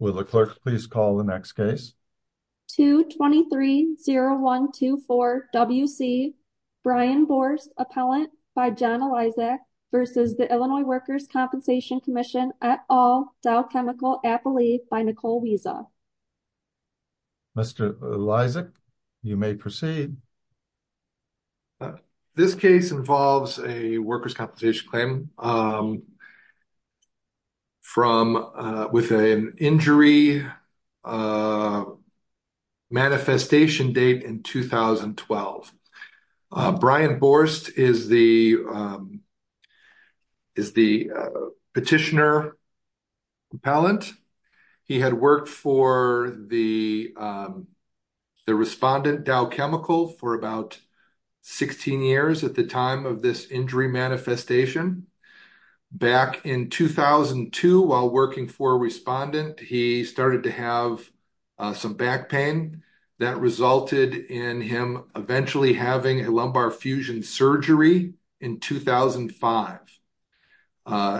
Will the clerk please call the next case? 2230124 W.C. Brian Borst, Appellant, by John Elisak, v. Illinois Workers' Compensation Comm'n, et al., Dow Chemical, Appalachia, by Nicole Wiesa. Mr. Elisak, you may proceed. 2230124 W.C. Brian Borst, Appallachia, by Nicole Wiesa. This case involves a workers' compensation claim with an injury manifestation date in 2012. Brian Borst is the petitioner appellant. He had worked for the respondent, Dow Chemical, for about 16 years at the time of this injury manifestation. Back in 2002, while working for a respondent, he started to have some back pain that resulted in him eventually having a lumbar fusion surgery in 2005.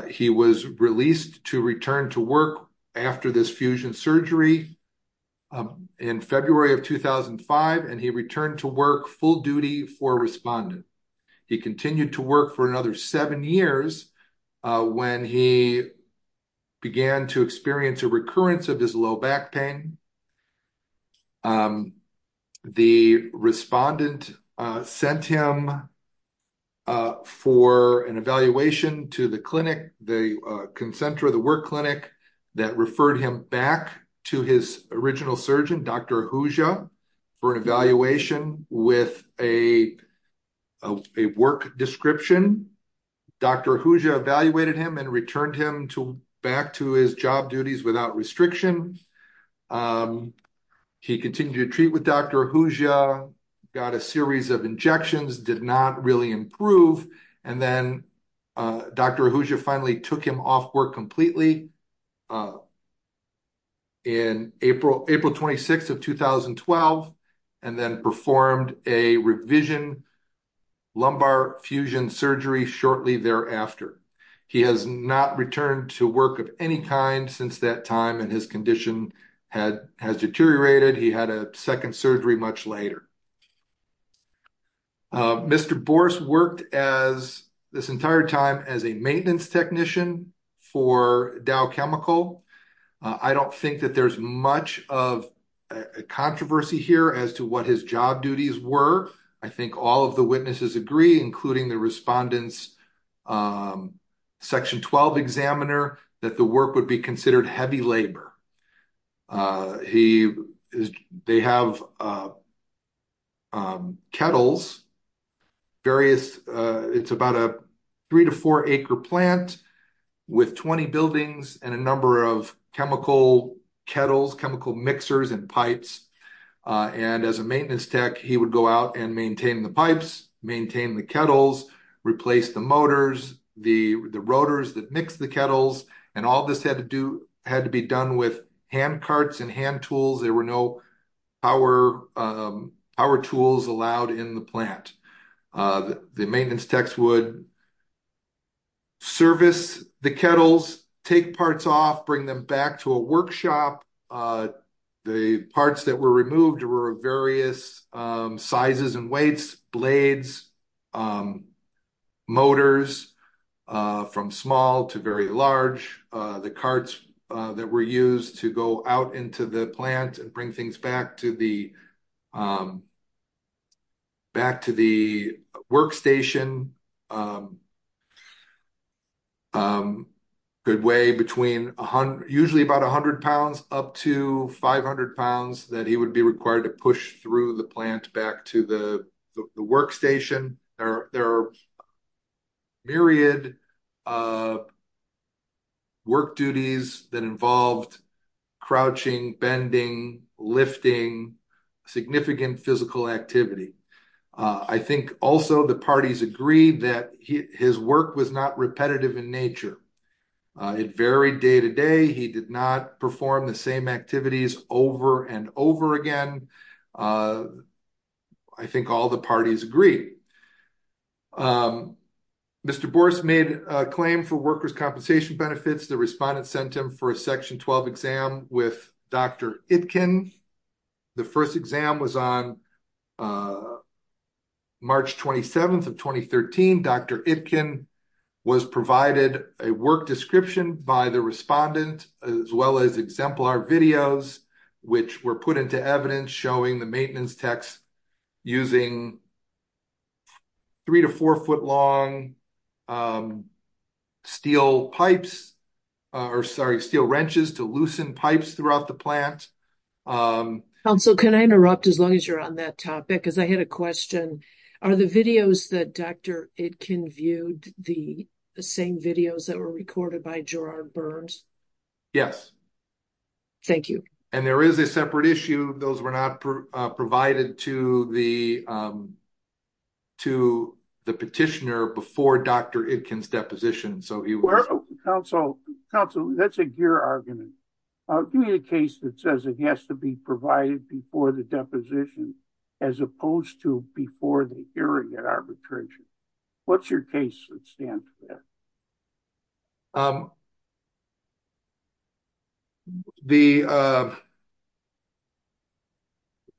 He was released to return to work after this fusion surgery in February of 2005, and he returned to work full duty for a respondent. He continued to work for another seven years when he began to experience a recurrence of his low back pain. The respondent sent him for an evaluation to the work clinic that referred him back to his original surgeon, Dr. Ahuja, for an evaluation with a work description. Dr. Ahuja evaluated him and returned him back to his job duties without restriction. He continued to treat with Dr. Ahuja, got a series of injections, did not really improve, and then Dr. Ahuja finally took him off work completely in April 26th of 2012, and then performed a revision lumbar fusion surgery shortly thereafter. He has not returned to work of any kind since that time, and his condition has deteriorated. He had a second surgery much later. Mr. Bors worked this entire time as a maintenance technician for Dow Chemical. I don't think that there's much of a controversy here as to what his job duties were. I think all of the witnesses agree, including the respondent's Section 12 examiner, that the work would be considered heavy labor. They have kettles, various, it's about a three to four acre plant with 20 buildings and a number of chemical kettles, chemical mixers, and pipes, and as a maintenance tech he would go out and maintain the pipes, maintain the kettles, replace the motors, the rotors that mix the kettles, and all this had to be done with hand carts and hand tools. There were no power tools allowed in the plant. The maintenance techs would service the kettles, take parts off, bring them back to a workshop. The parts that were removed were of various sizes and weights, blades, motors, from small to very large. The carts that were used to go out into the plant and bring things back to the workstation usually about 100 pounds up to 500 pounds that he would be required to push through the plant back to the workstation. There are myriad work duties that involved crouching, bending, lifting, significant physical activity. I think also the parties agreed that his work was not repetitive in nature. It varied day to day. He did not perform the same activities over and over again. I think all the parties agreed. Mr. Bourse made a claim for workers' compensation benefits. The first exam was on March 27th of 2013. Dr. Itkin was provided a work description by the respondent as well as exemplar videos which were put into evidence showing the maintenance techs using three to four foot long steel pipes or sorry steel wrenches to loosen pipes throughout the plant. Counsel, can I interrupt as long as you're on that topic? I had a question. Are the videos that Dr. Itkin viewed the same videos that were recorded by Gerard Burns? Yes. Thank you. And there is a separate issue. Those were not provided to the petitioner before Dr. Itkin's provided before the deposition as opposed to before the hearing at arbitration. What's your case?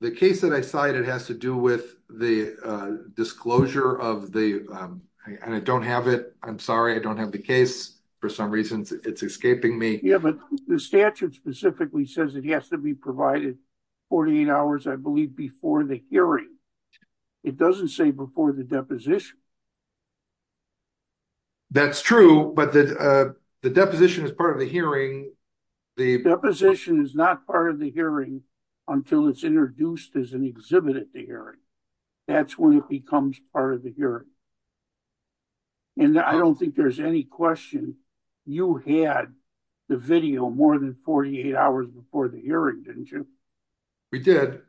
The case that I cited has to do with the disclosure of the and I don't have it. I'm sorry. I don't have the case for some reason. It's escaping me. Yeah, but the statute specifically says it has to be provided 48 hours I believe before the hearing. It doesn't say before the deposition. That's true, but the deposition is part of the hearing. The deposition is not part of the hearing until it's introduced as an exhibit at the hearing. That's when it becomes part of the question. You had the video more than 48 hours before the hearing, didn't you? We did,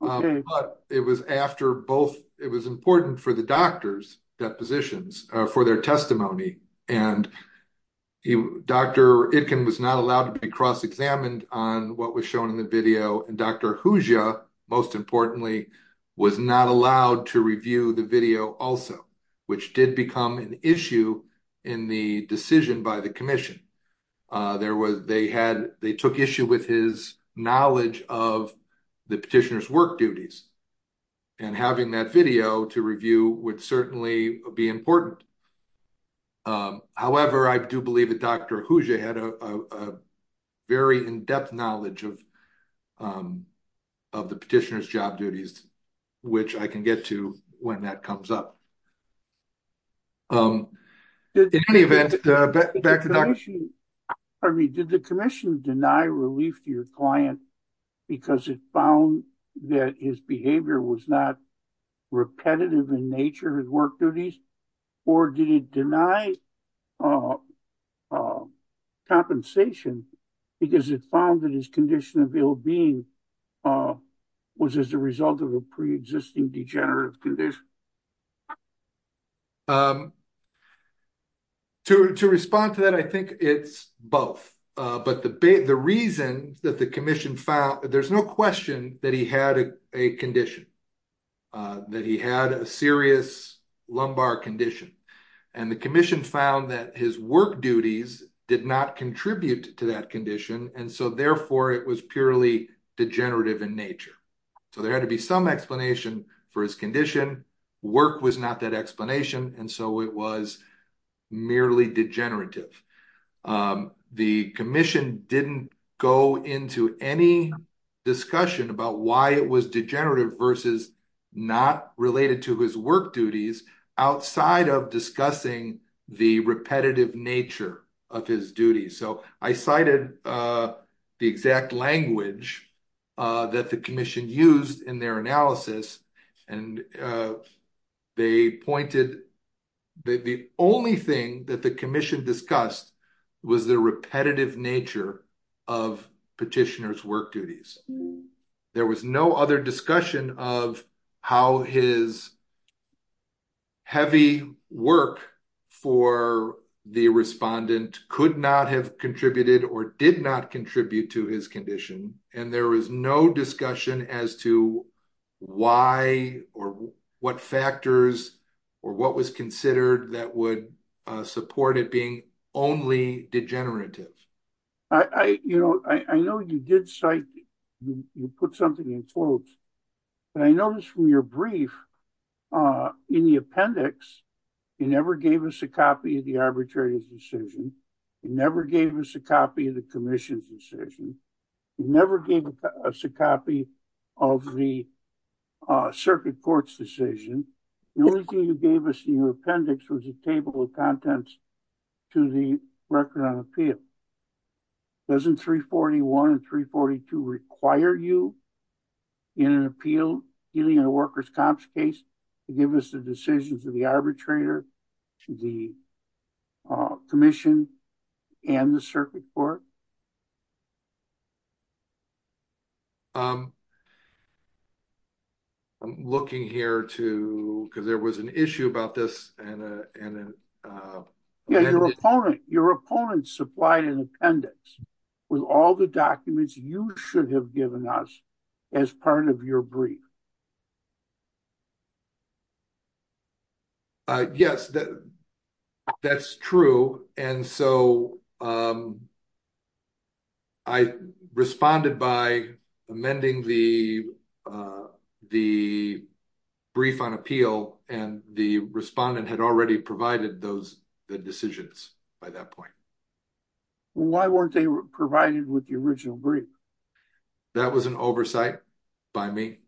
but it was after both. It was important for the doctor's depositions for their testimony and Dr. Itkin was not allowed to be cross-examined on what was shown in the video and Dr. Hoosier most importantly was not allowed to review the video also, which did become an issue in the decision by the commission. They took issue with his knowledge of the petitioner's work duties and having that video to review would certainly be important. However, I do believe that Dr. Hoosier had a very in-depth knowledge of the petitioner's job duties, which I can get to when that comes up. Did the commission deny relief to your client because it found that his behavior was not compensation because it found that his condition of ill-being was as a result of a pre-existing degenerative condition? To respond to that, I think it's both, but the reason that the commission found, there's no question that he had a condition, that he had a serious lumbar condition, and the commission found that his work duties did not contribute to that condition and so, therefore, it was purely degenerative in nature. So, there had to be some explanation for his condition. Work was not that explanation and so it was merely degenerative. The commission didn't go into any discussion about why it was degenerative versus not related to his work duties outside of discussing the repetitive nature of his duties. So, I cited the exact language that the commission used in their analysis and they pointed that the only thing that the commission discussed was the repetitive nature of petitioner's work duties. There was no other discussion of how his heavy work for the respondent could not have contributed or did not contribute to his condition and there was no discussion as to why or what factors or what was considered that would support it being only degenerative. I know you did cite, you put something in quotes, but I noticed from your brief in the appendix, you never gave us a copy of the arbitrary decision, you never gave us a copy of the commission's decision, you never gave us a copy of the circuit court's decision. The only thing you gave us in your appendix was a table of contents to the record on appeal. Doesn't 341 and 342 require you in an appeal, dealing in a workers' comps case, to give us the decisions of the arbitrator, to the commission, and the circuit court? I'm looking here because there was an issue about this. Your opponent supplied an appendix with all the documents you should have given us as part of your brief. Yes, that's true, and so I responded by amending the brief on appeal and the respondent had already provided the decisions by that point. Why weren't they provided with the original brief? That was an oversight by me.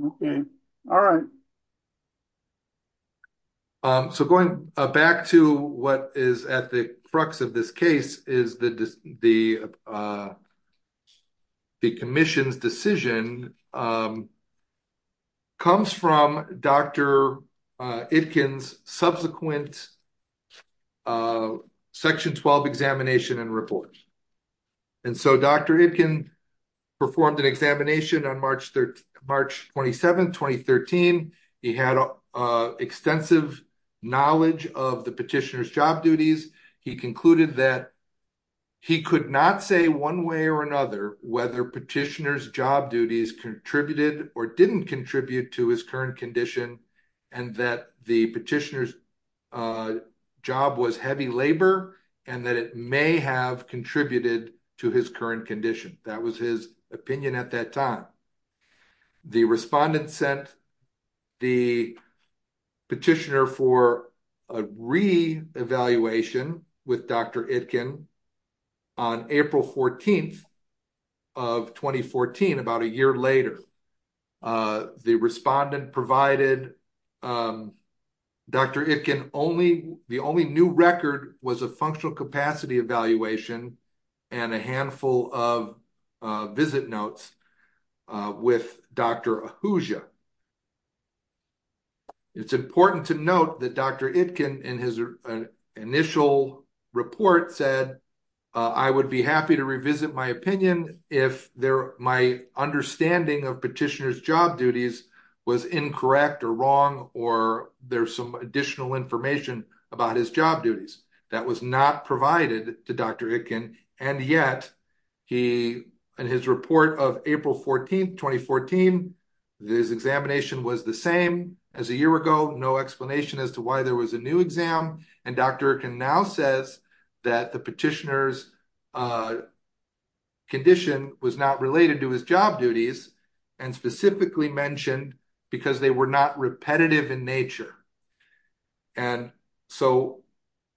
So going back to what is at the crux of this case is the commission's decision comes from Dr. Itkin's subsequent section 12 examination and report. And so Dr. Itkin performed an examination on March 27, 2013. He had extensive knowledge of the petitioner's job duties. He concluded that he could not say one way or another whether petitioner's job duties contributed or didn't contribute to his current condition and that petitioner's job was heavy labor and that it may have contributed to his current condition. That was his opinion at that time. The respondent sent the petitioner for a re-evaluation with Dr. Itkin. The only new record was a functional capacity evaluation and a handful of visit notes with Dr. Ahuja. It's important to note that Dr. Itkin in his initial report said, I would be happy to revisit my opinion if my understanding of petitioner's job duties was incorrect or wrong or there's some additional information about his job duties. That was not provided to Dr. Itkin. And yet, in his report of April 14, 2014, his examination was the same as a year ago. No explanation as to why there was a new exam. And Dr. Itkin now says that the petitioner's condition was not related to his job duties and specifically mentioned because they were not repetitive in nature. And so,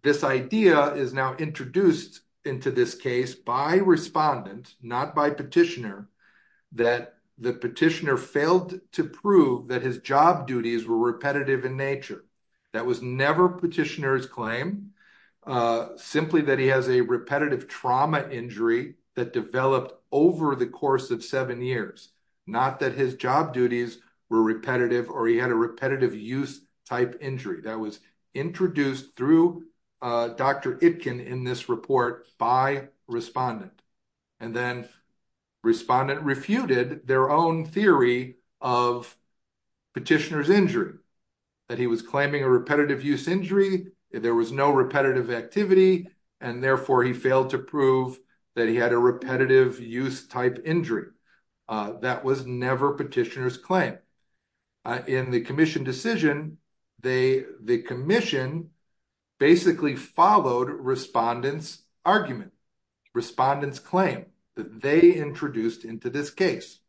this idea is now introduced into this case by respondent, not by petitioner, that the petitioner failed to prove that his job duties were repetitive in nature. That was never petitioner's claim, simply that he has a repetitive trauma injury that developed over the course of seven years, not that his job duties were repetitive or he had a repetitive use type injury. That was introduced through Dr. Itkin in this report by respondent. And then respondent refuted their own theory of petitioner's injury, that he was claiming a repetitive use injury, there was no repetitive activity, and therefore, he failed to prove that he had a repetitive use type injury. That was never petitioner's claim. In the commission decision, the commission basically followed respondent's argument, respondent's claim that they introduced into this case.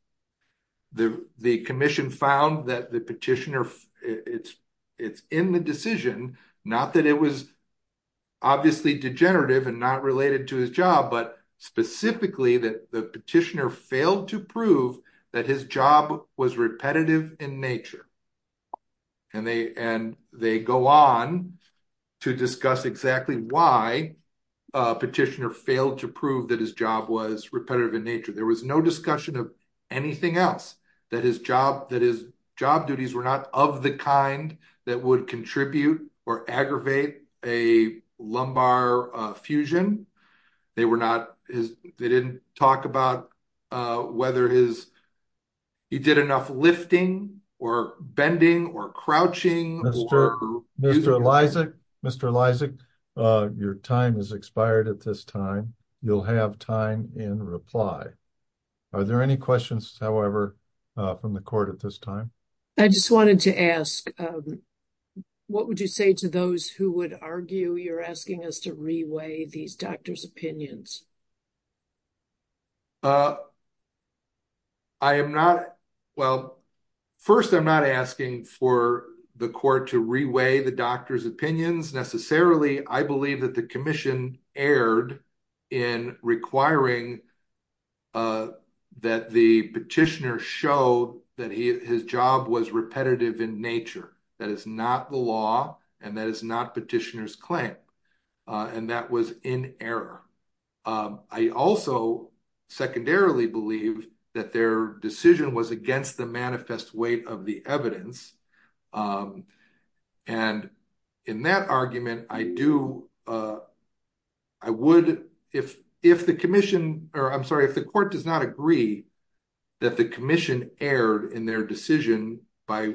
The commission found that the petitioner, it's in the decision, not that it was obviously degenerative and not related to his job, but specifically that the petitioner failed to prove that his job was repetitive in nature. And they go on to discuss exactly why petitioner failed to prove that his job was repetitive in nature. There was no discussion of anything else, that his job duties were not of the kind that would contribute or aggravate a lumbar fusion. They didn't talk about whether he did enough lifting or bending or crouching. Mr. Lysak, your time has expired at this time. You'll have time in reply. Are there any questions, however, from the court at this time? I just wanted to ask, what would you say to those who would argue you're asking us to reweigh these doctors' opinions? I am not, well, first, I'm not asking for the court to reweigh the doctor's opinions, necessarily. I believe that the commission erred in requiring that the petitioner show that his job was repetitive in nature. That is not the law, and that is not petitioner's claim. And that was in error. I also secondarily believe that their decision was against the manifest weight of the evidence. And in that argument, I do, I would, if the commission, or I'm sorry, the court does not agree that the commission erred in their decision by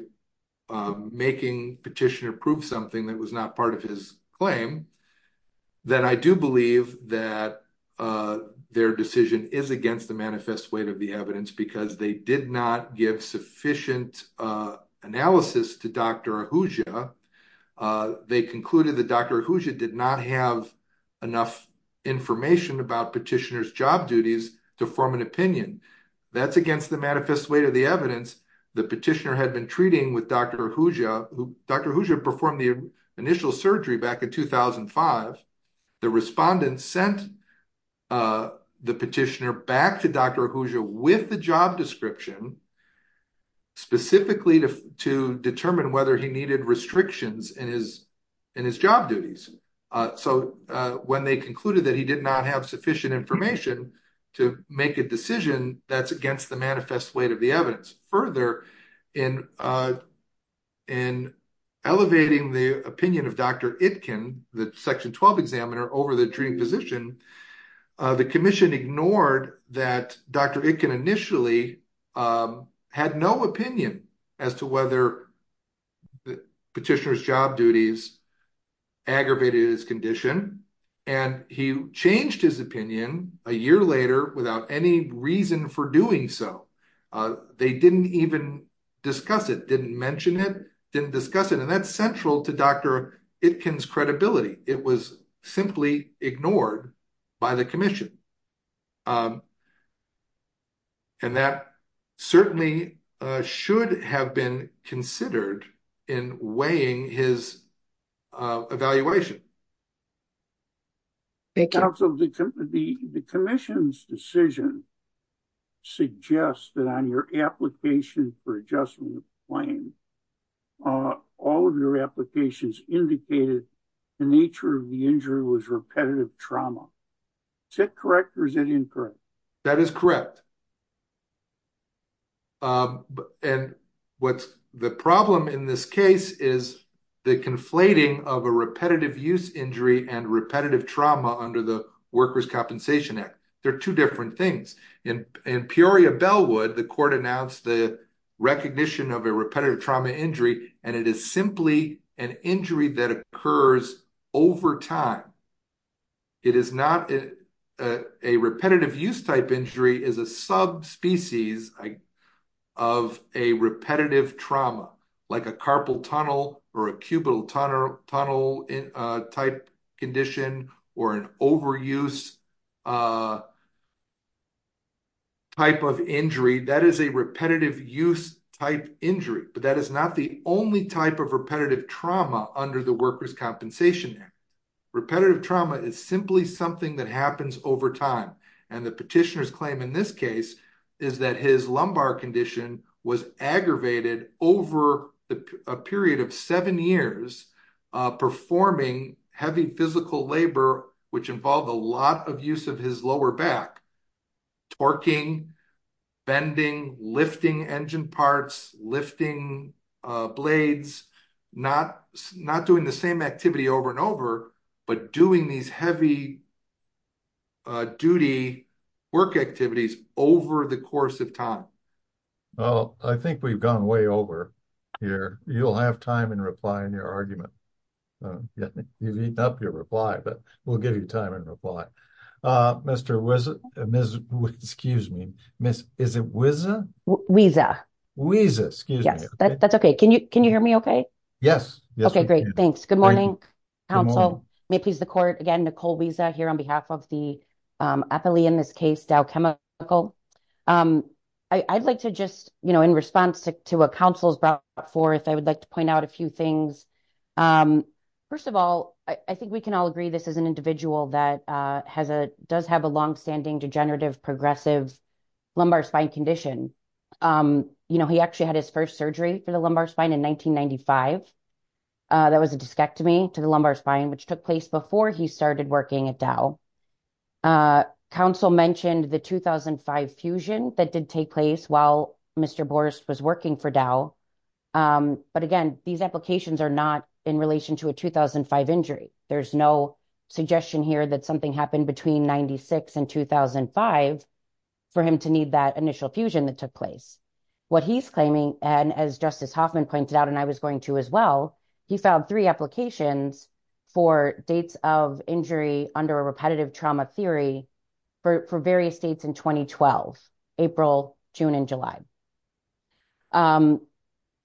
making petitioner prove something that was not part of his claim, then I do believe that their decision is against the manifest weight of the evidence because they did not give sufficient analysis to Dr. Ahuja. They concluded that Dr. Ahuja did not have enough information about petitioner's job duties to form an opinion. That's against the manifest weight of the evidence. The petitioner had been treating with Dr. Ahuja. Dr. Ahuja performed the initial surgery back in 2005. The respondents sent the petitioner back to Dr. Ahuja with the job description specifically to determine whether he needed restrictions in his job duties. So when they concluded that he did not have sufficient information to make a decision that's against the manifest weight of the evidence. Further, in elevating the opinion of Dr. Itkin, the section 12 examiner, over the treating position, the commission ignored that Dr. Itkin initially had no opinion as to whether petitioner's job duties aggravated his condition. And he changed his opinion a year later without any reason for doing so. They didn't even discuss it, didn't mention it, didn't discuss it. And that's central to Dr. Itkin's credibility. It was simply ignored by the commission. And that certainly should have been considered in weighing his evaluation. Thank you. The commission's decision suggests that on your application for adjustment of claim, all of your applications indicated the nature of the injury was repetitive trauma. Is that correct or is it incorrect? That is correct. And what's the problem in this case is the conflating of a repetitive use injury and repetitive trauma under the Workers' Compensation Act. They're two different things. In Peoria-Bellwood, the court announced the recognition of a repetitive trauma injury, and it is simply an injury that occurs over time. A repetitive use type injury is a subspecies of a repetitive trauma, like a carpal tunnel or a cubital tunnel-type condition or an overuse type of injury. That is a repetitive use type injury, but that is not the only type of repetitive trauma under the Workers' Compensation Act. Repetitive trauma is simply something that happens over time. And the petitioner's claim in this case is that his lumbar condition was aggravated over a period of seven years, performing heavy physical labor, which involved a lot of use of his lower back, torquing, bending, lifting engine parts, lifting blades, not doing the same activity over and over, but doing these heavy duty work activities over the course of time. Well, I think we've gone way over here. You'll have time and reply in your argument. You've eaten up your reply, but we'll give you time and reply. Mr. Wiza, excuse me, is it Wiza? Wiza. Wiza, excuse me. Yes, that's okay. Can you hear me okay? Yes. Okay, great. Thanks. Good morning, counsel. May it please the court. Again, Nicole Wiza here on behalf of the appellee in this case, Dow Chemical. I'd like to just, in response to what counsel's brought forth, I would like to point out a few things. First of all, I think we can all agree this is an individual that has a, does have a longstanding degenerative progressive lumbar spine condition. You know, he actually had his first surgery for the lumbar spine in 1995. That was a discectomy to the lumbar spine, which took place before he started working at Dow. Counsel mentioned the 2005 fusion that did take place while Mr. Borst was working for Dow. But again, these applications are not in relation to a 2005 injury. There's no suggestion here that something happened between 96 and 2005 for him to need that initial fusion that took place. What he's claiming, and as Justice Hoffman pointed out, and I was going to as well, he filed three applications for dates of injury under a repetitive trauma theory for various states in 2012, April, June, and July.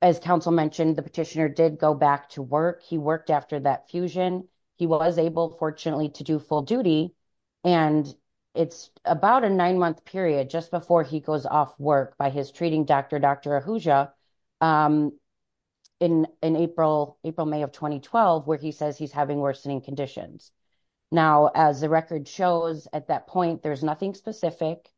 As counsel mentioned, the petitioner did go back to work. He worked after that fusion. He was able, fortunately, to do full duty, and it's about a nine-month period just before he April, May of 2012, where he says he's having worsening conditions. Now, as the record shows at that point, there's nothing specific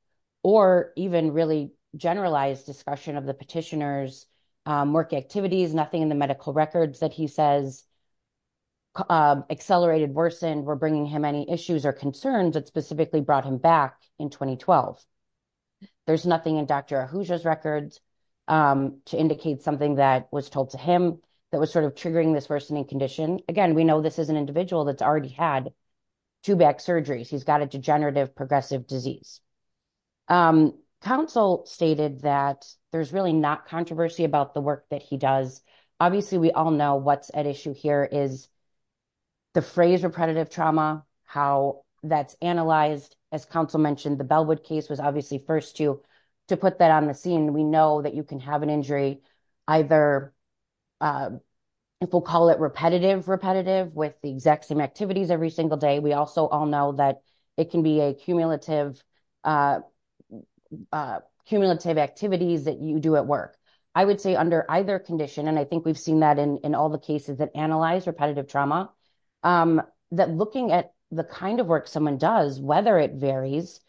or even really generalized discussion of the petitioner's work activities, nothing in the medical records that he says accelerated, worsened, or bringing him any issues or concerns that specifically brought him back in 2012. There's nothing in Dr. Ahuja's records to indicate something that was told to him that was triggering this worsening condition. Again, we know this is an individual that's already had two back surgeries. He's got a degenerative progressive disease. Counsel stated that there's really not controversy about the work that he does. Obviously, we all know what's at issue here is the phrase repetitive trauma, how that's analyzed. As counsel mentioned, the Bellwood case was obviously first to put that on the scene. We know that you can have an injury, either people call it repetitive-repetitive with the exact same activities every single day. We also all know that it can be a cumulative activities that you do at work. I would say under either condition, and I think we've seen that in all the cases that analyze repetitive trauma, that looking at the kind of work someone does, whether it varies,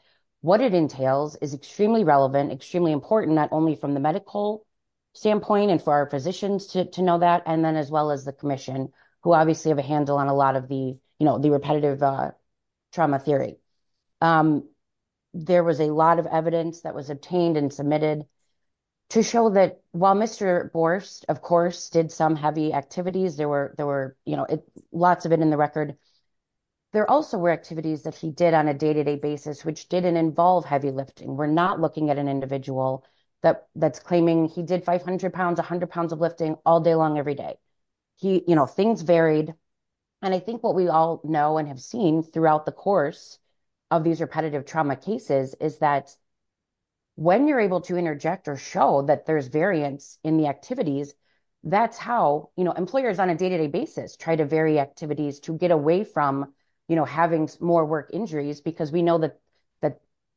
what it entails is extremely relevant, extremely important, not only from the medical standpoint and for our physicians to know that, and then as well as the commission, who obviously have a handle on a lot of the repetitive trauma theory. There was a lot of evidence that was obtained and submitted to show that while Mr. Borst, of course, did some heavy activities, there were lots of it in the record, there also were activities that he did on a day-to-day basis, which didn't involve heavy lifting. We're not looking at an individual that's claiming he did 500 pounds, 100 pounds of lifting all day long, every day. Things varied, and I think what we all know and have seen throughout the course of these repetitive trauma cases is that when you're able to interject or show that there's variance in the activities, that's how employers on a day-to-day basis try to vary activities to get away from having more work injuries because we know that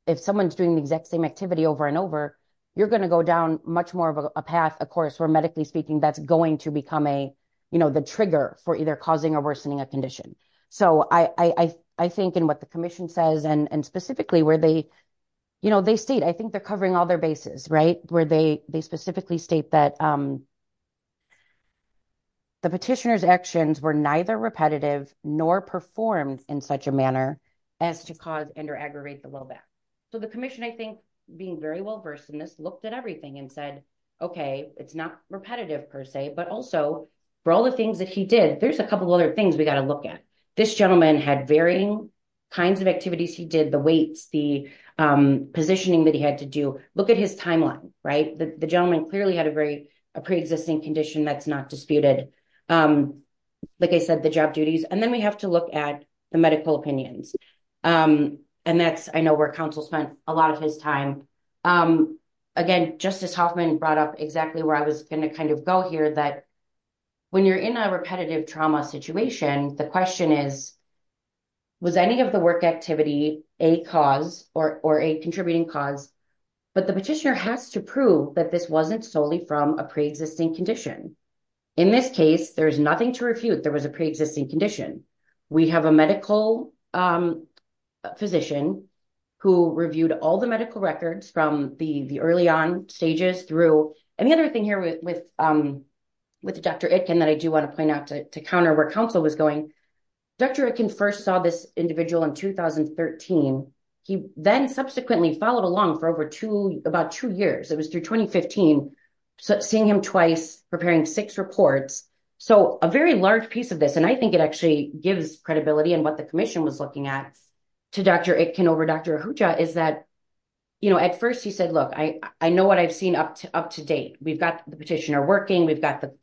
if someone's doing the exact same activity over and over, you're going to go down much more of a path, of course, where medically speaking, that's going to become the trigger for either causing or worsening a condition. So I think in what the commission says and specifically where they state, I think they're covering all their bases, where they specifically state that the petitioner's actions were neither repetitive nor performed in such a manner as to cause and or aggravate the low back. So the commission, I think, being very well versed in this, looked at everything and said, okay, it's not repetitive per se, but also for all the things that he did, there's a couple of other things we got to look at. This gentleman had varying kinds of activities he did, the weights, the positioning that he had to do. Look at his timeline, right? The gentleman clearly had a very, pre-existing condition that's not disputed. Like I said, the job duties, and then we have to look at the medical opinions. And that's, I know, where council spent a lot of his time. Again, Justice Hoffman brought up exactly where I was going to kind of go here, that when you're in a repetitive trauma situation, the question is, was any of the work activity a cause or a contributing cause? But the petitioner has to prove that this wasn't solely from a pre-existing condition. In this case, there's nothing to refute, there was a pre-existing condition. We have a medical physician who reviewed all the medical records from the early on stages through, and the other thing here with Dr. Itkin that I do want to point out to counter where council was going, Dr. Itkin first saw this individual in 2013. He then subsequently followed along for about two years. It was through 2015, seeing him twice, preparing six reports. So a very large piece of this, and I think it actually gives credibility in what the commission was looking at to Dr. Itkin over Dr. Ahuja is that, at first he said, look, I know what I've seen up to date. We've got the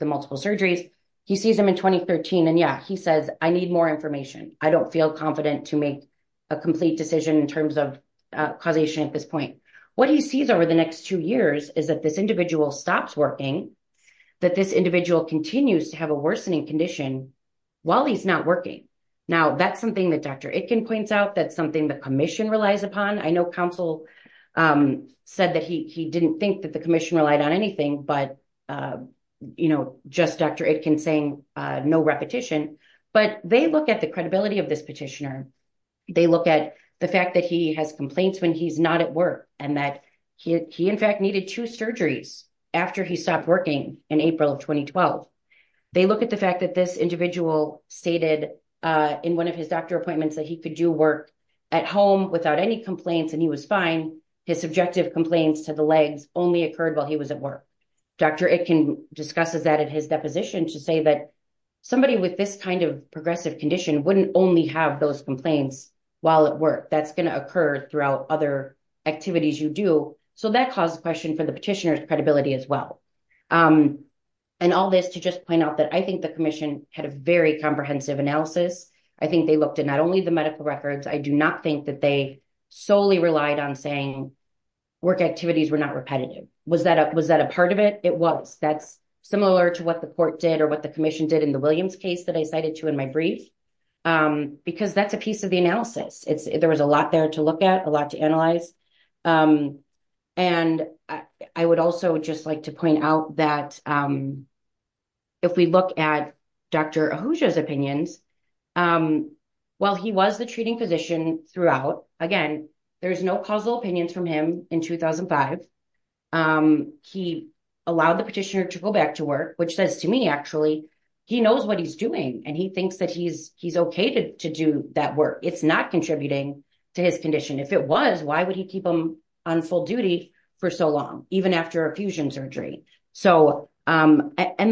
multiple surgeries. He sees them in 2013 and yeah, he says, I need more information. I don't feel confident to make a complete decision in terms of causation at this point. What he sees over the next two years is that this individual stops working, that this individual continues to have a worsening condition while he's not working. Now that's something that Dr. Itkin points out, that's something the commission relies upon. I know council said that he didn't think that commission relied on anything, but just Dr. Itkin saying no repetition, but they look at the credibility of this petitioner. They look at the fact that he has complaints when he's not at work and that he in fact needed two surgeries after he stopped working in April of 2012. They look at the fact that this individual stated in one of his doctor appointments that he could do work at home without any complaints and he was fine. His subjective complaints to the legs only occurred while he was at work. Dr. Itkin discusses that in his deposition to say that somebody with this kind of progressive condition wouldn't only have those complaints while at work. That's going to occur throughout other activities you do. So that caused a question for the petitioner's credibility as well. And all this to just point out that I think the commission had a very comprehensive analysis. I think they looked at not only the medical records. I do not think that they solely relied on saying work activities were not repetitive. Was that a part of it? It was. That's similar to what the court did or what the commission did in the Williams case that I cited to in my brief, because that's a piece of the analysis. There was a lot there to look at, a lot to analyze. And I would also just like to point out that if we look at Dr. Ahuja's opinions, while he was the treating physician throughout, again, there's no causal opinions from him in 2005. He allowed the petitioner to go back to work, which says to me, actually, he knows what he's doing and he thinks that he's okay to do that work. It's not contributing to his condition. If it was, why would he keep him on full duty for so long, even after a fusion surgery? And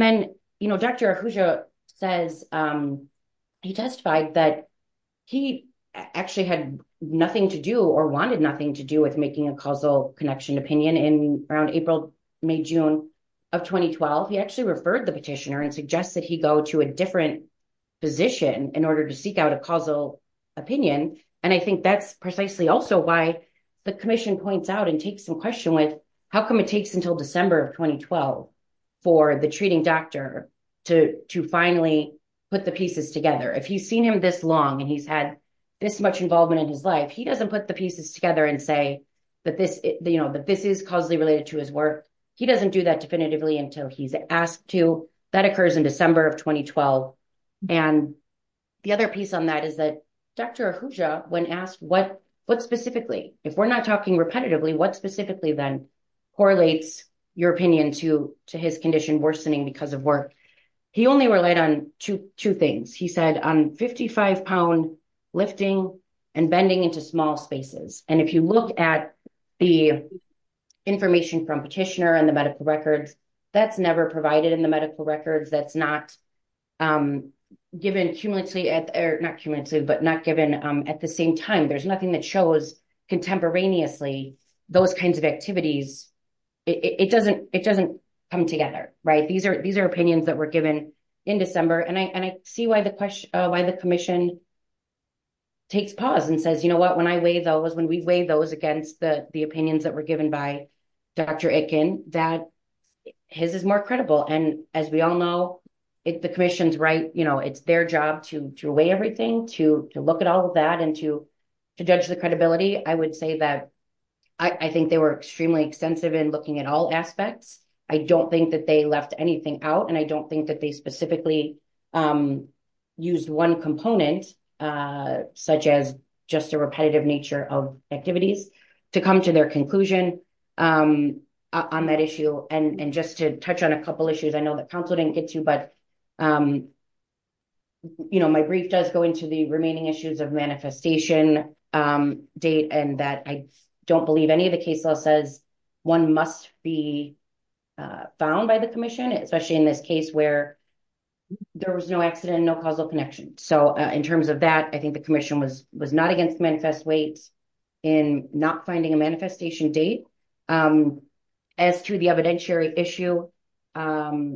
then Dr. Ahuja says, he testified that he actually had nothing to do or wanted nothing to do with making a causal connection opinion. And around April, May, June of 2012, he actually referred the petitioner and suggested he go to a different position in order to seek out a causal opinion. And I think that's precisely also why the commission points out and takes some question with how come it takes until December of 2012 for the treating doctor to finally put the pieces together. If he's seen him this long and he's had this much involvement in his life, he doesn't put the pieces together and say that this is causally related to his work. He doesn't do that definitively until he's asked to. That occurs in the other piece on that is that Dr. Ahuja, when asked what specifically, if we're not talking repetitively, what specifically then correlates your opinion to his condition worsening because of work? He only relied on two things. He said on 55 pound lifting and bending into small spaces. And if you look at the information from petitioner and the medical records, that's never provided in the medical records. That's not given at the same time. There's nothing that shows contemporaneously those kinds of activities. It doesn't come together, right? These are opinions that were given in December. And I see why the commission takes pause and says, you know what, when I weigh those, when we weigh those against the opinions that were given by Dr. Akin, that his is more credible. And as we all know, the commission's right, you know, it's their job to weigh everything, to look at all of that and to judge the credibility. I would say that I think they were extremely extensive in looking at all aspects. I don't think that they left anything out. And I don't think that they specifically used one component, such as just repetitive nature of activities, to come to their conclusion on that issue. And just to touch on a couple issues, I know that council didn't get to, but you know, my brief does go into the remaining issues of manifestation date and that I don't believe any of the case law says one must be found by the commission, especially in this case where there was no accident, no causal connection. So in terms of that, I think the commission was not against manifest weight in not finding a manifestation date. As to the evidentiary issue, again,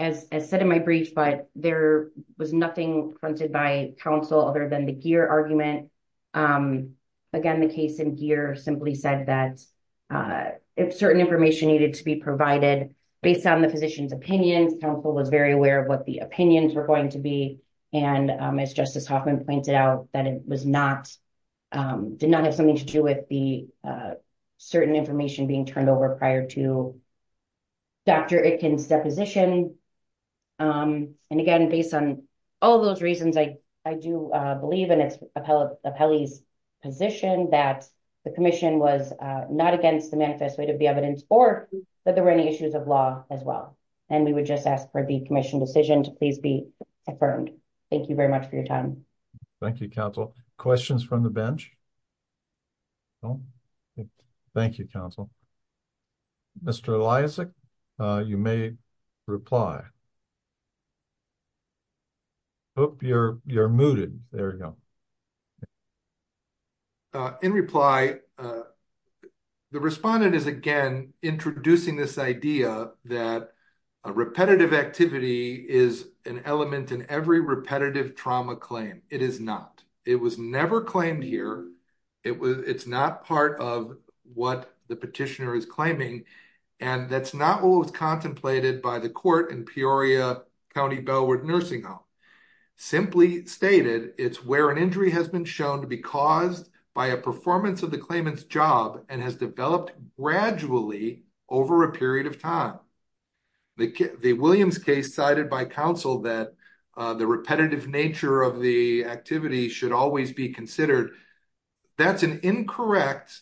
as I said in my brief, but there was nothing fronted by council other than the GEER argument. Again, the case in GEER simply said that if certain information needed to be provided based on the physician's opinions, council was very aware of what the opinions were going to be. And as Justice Hoffman pointed out, that it did not have something to do with the certain information being turned over prior to Dr. Itkin's deposition. And again, based on all those reasons, I do believe in Apelli's position that the commission was not against the manifest weight of the evidence or that there was nothing to do with it. So I would just ask for the commission decision to please be affirmed. Thank you very much for your time. Thank you, council. Questions from the bench? No? Thank you, council. Mr. Eliasic, you may reply. I hope you're you're mooted. There you go. In reply, the respondent is, again, introducing this idea that a repetitive activity is an element in every repetitive trauma claim. It is not. It was never claimed here. It's not part of what the petitioner is claiming. And that's not what was contemplated by the court in Peoria County Bellwood Nursing Home. Simply stated, it's where an injury has been shown to be caused by a performance of the claimant's job and has developed gradually over a period of time. The Williams case cited by counsel that the repetitive nature of the activity should always be considered. That's an incorrect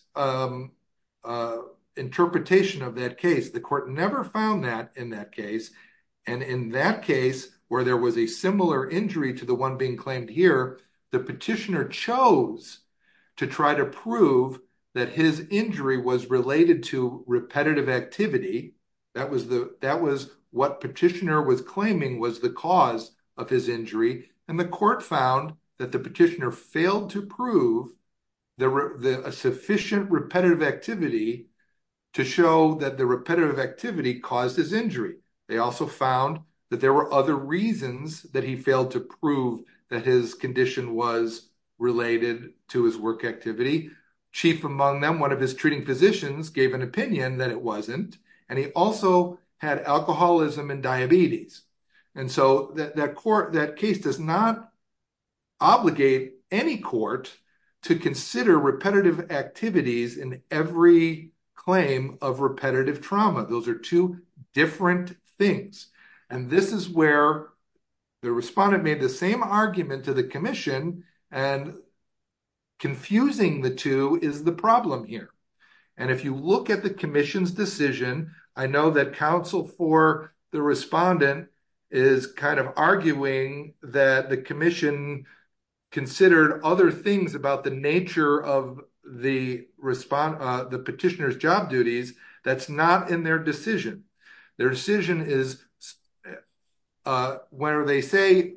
interpretation of that case. The court never found that in that case where there was a similar injury to the one being claimed here, the petitioner chose to try to prove that his injury was related to repetitive activity. That was what petitioner was claiming was the cause of his injury. And the court found that the petitioner failed to prove a sufficient repetitive activity to show that the repetitive activity caused his injury. They also found that there were other reasons that he failed to prove that his condition was related to his work activity. Chief among them, one of his treating physicians gave an opinion that it wasn't. And he also had alcoholism and diabetes. And so that court, that case does not obligate any court to consider repetitive activities in every claim of repetitive trauma. Those are two different things. And this is where the respondent made the same argument to the commission and confusing the two is the problem here. And if you look at the commission's decision, I know that counsel for the respondent is kind of arguing that the commission considered other things about the nature of the petitioner's job duties. That's not in their decision. Their decision is where they say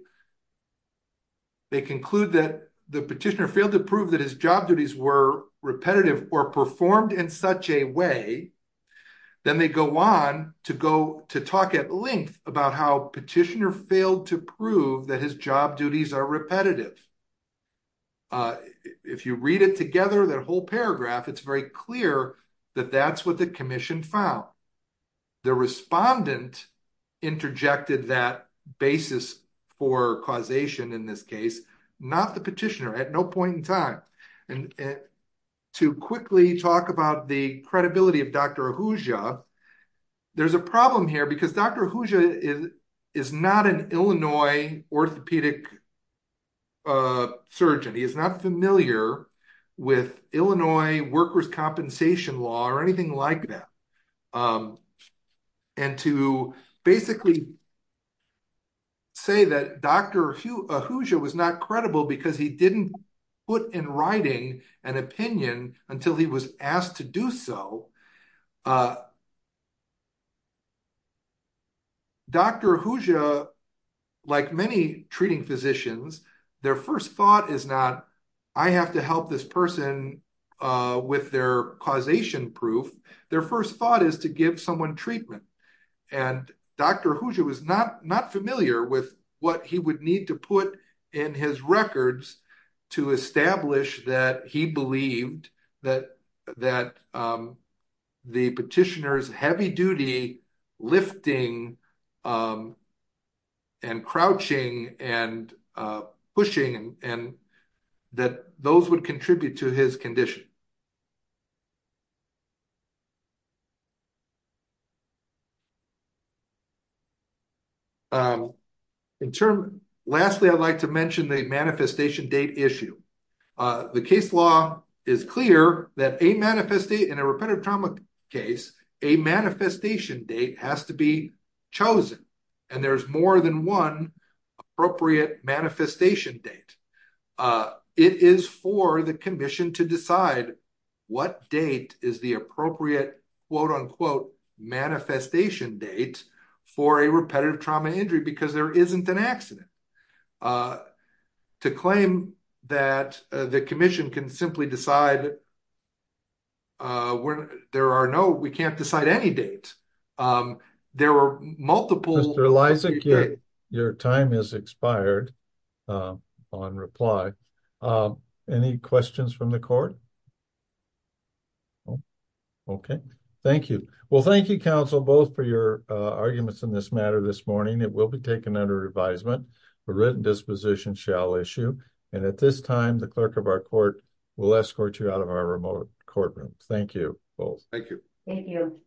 they conclude that the petitioner failed to prove that his job duties were repetitive or performed in such a way. Then they go on to go to talk at length about how petitioner failed to prove that his job duties are repetitive. If you read it together, that whole paragraph, it's very clear that that's what the commission found. The respondent interjected that basis for causation in this case, not the petitioner at no point in time. And to quickly talk about the credibility of Dr. Ahuja, there's a problem here because Dr. Ahuja is not an Illinois orthopedic surgeon. He is not familiar with Illinois workers' compensation law or anything like that. And to basically say that Dr. Ahuja was not credible because he didn't put in writing an opinion until he was convicted. Dr. Ahuja, like many treating physicians, their first thought is not, I have to help this person with their causation proof. Their first thought is to give someone treatment. And Dr. Ahuja was not familiar with what he would need to put in his records to establish that he believed that the petitioner's heavy duty lifting and crouching and pushing and that those would contribute to his condition. Lastly, I'd like to mention the manifestation date issue. The case law is clear that in a repetitive trauma case, a manifestation date has to be chosen. And there's more than one manifestation date. It is for the commission to decide what date is the appropriate manifestation date for a repetitive trauma injury because there isn't an accident. To claim that the commission can simply decide there are no, we can't decide any date. Um, there were multiple- Mr. Lysak, your time has expired on reply. Any questions from the court? Okay. Thank you. Well, thank you, counsel, both for your arguments in this matter this morning. It will be taken under advisement. The written disposition shall issue. And at this time, the clerk of our court will escort you out of our remote courtroom. Thank you both. Thank you. Thank you.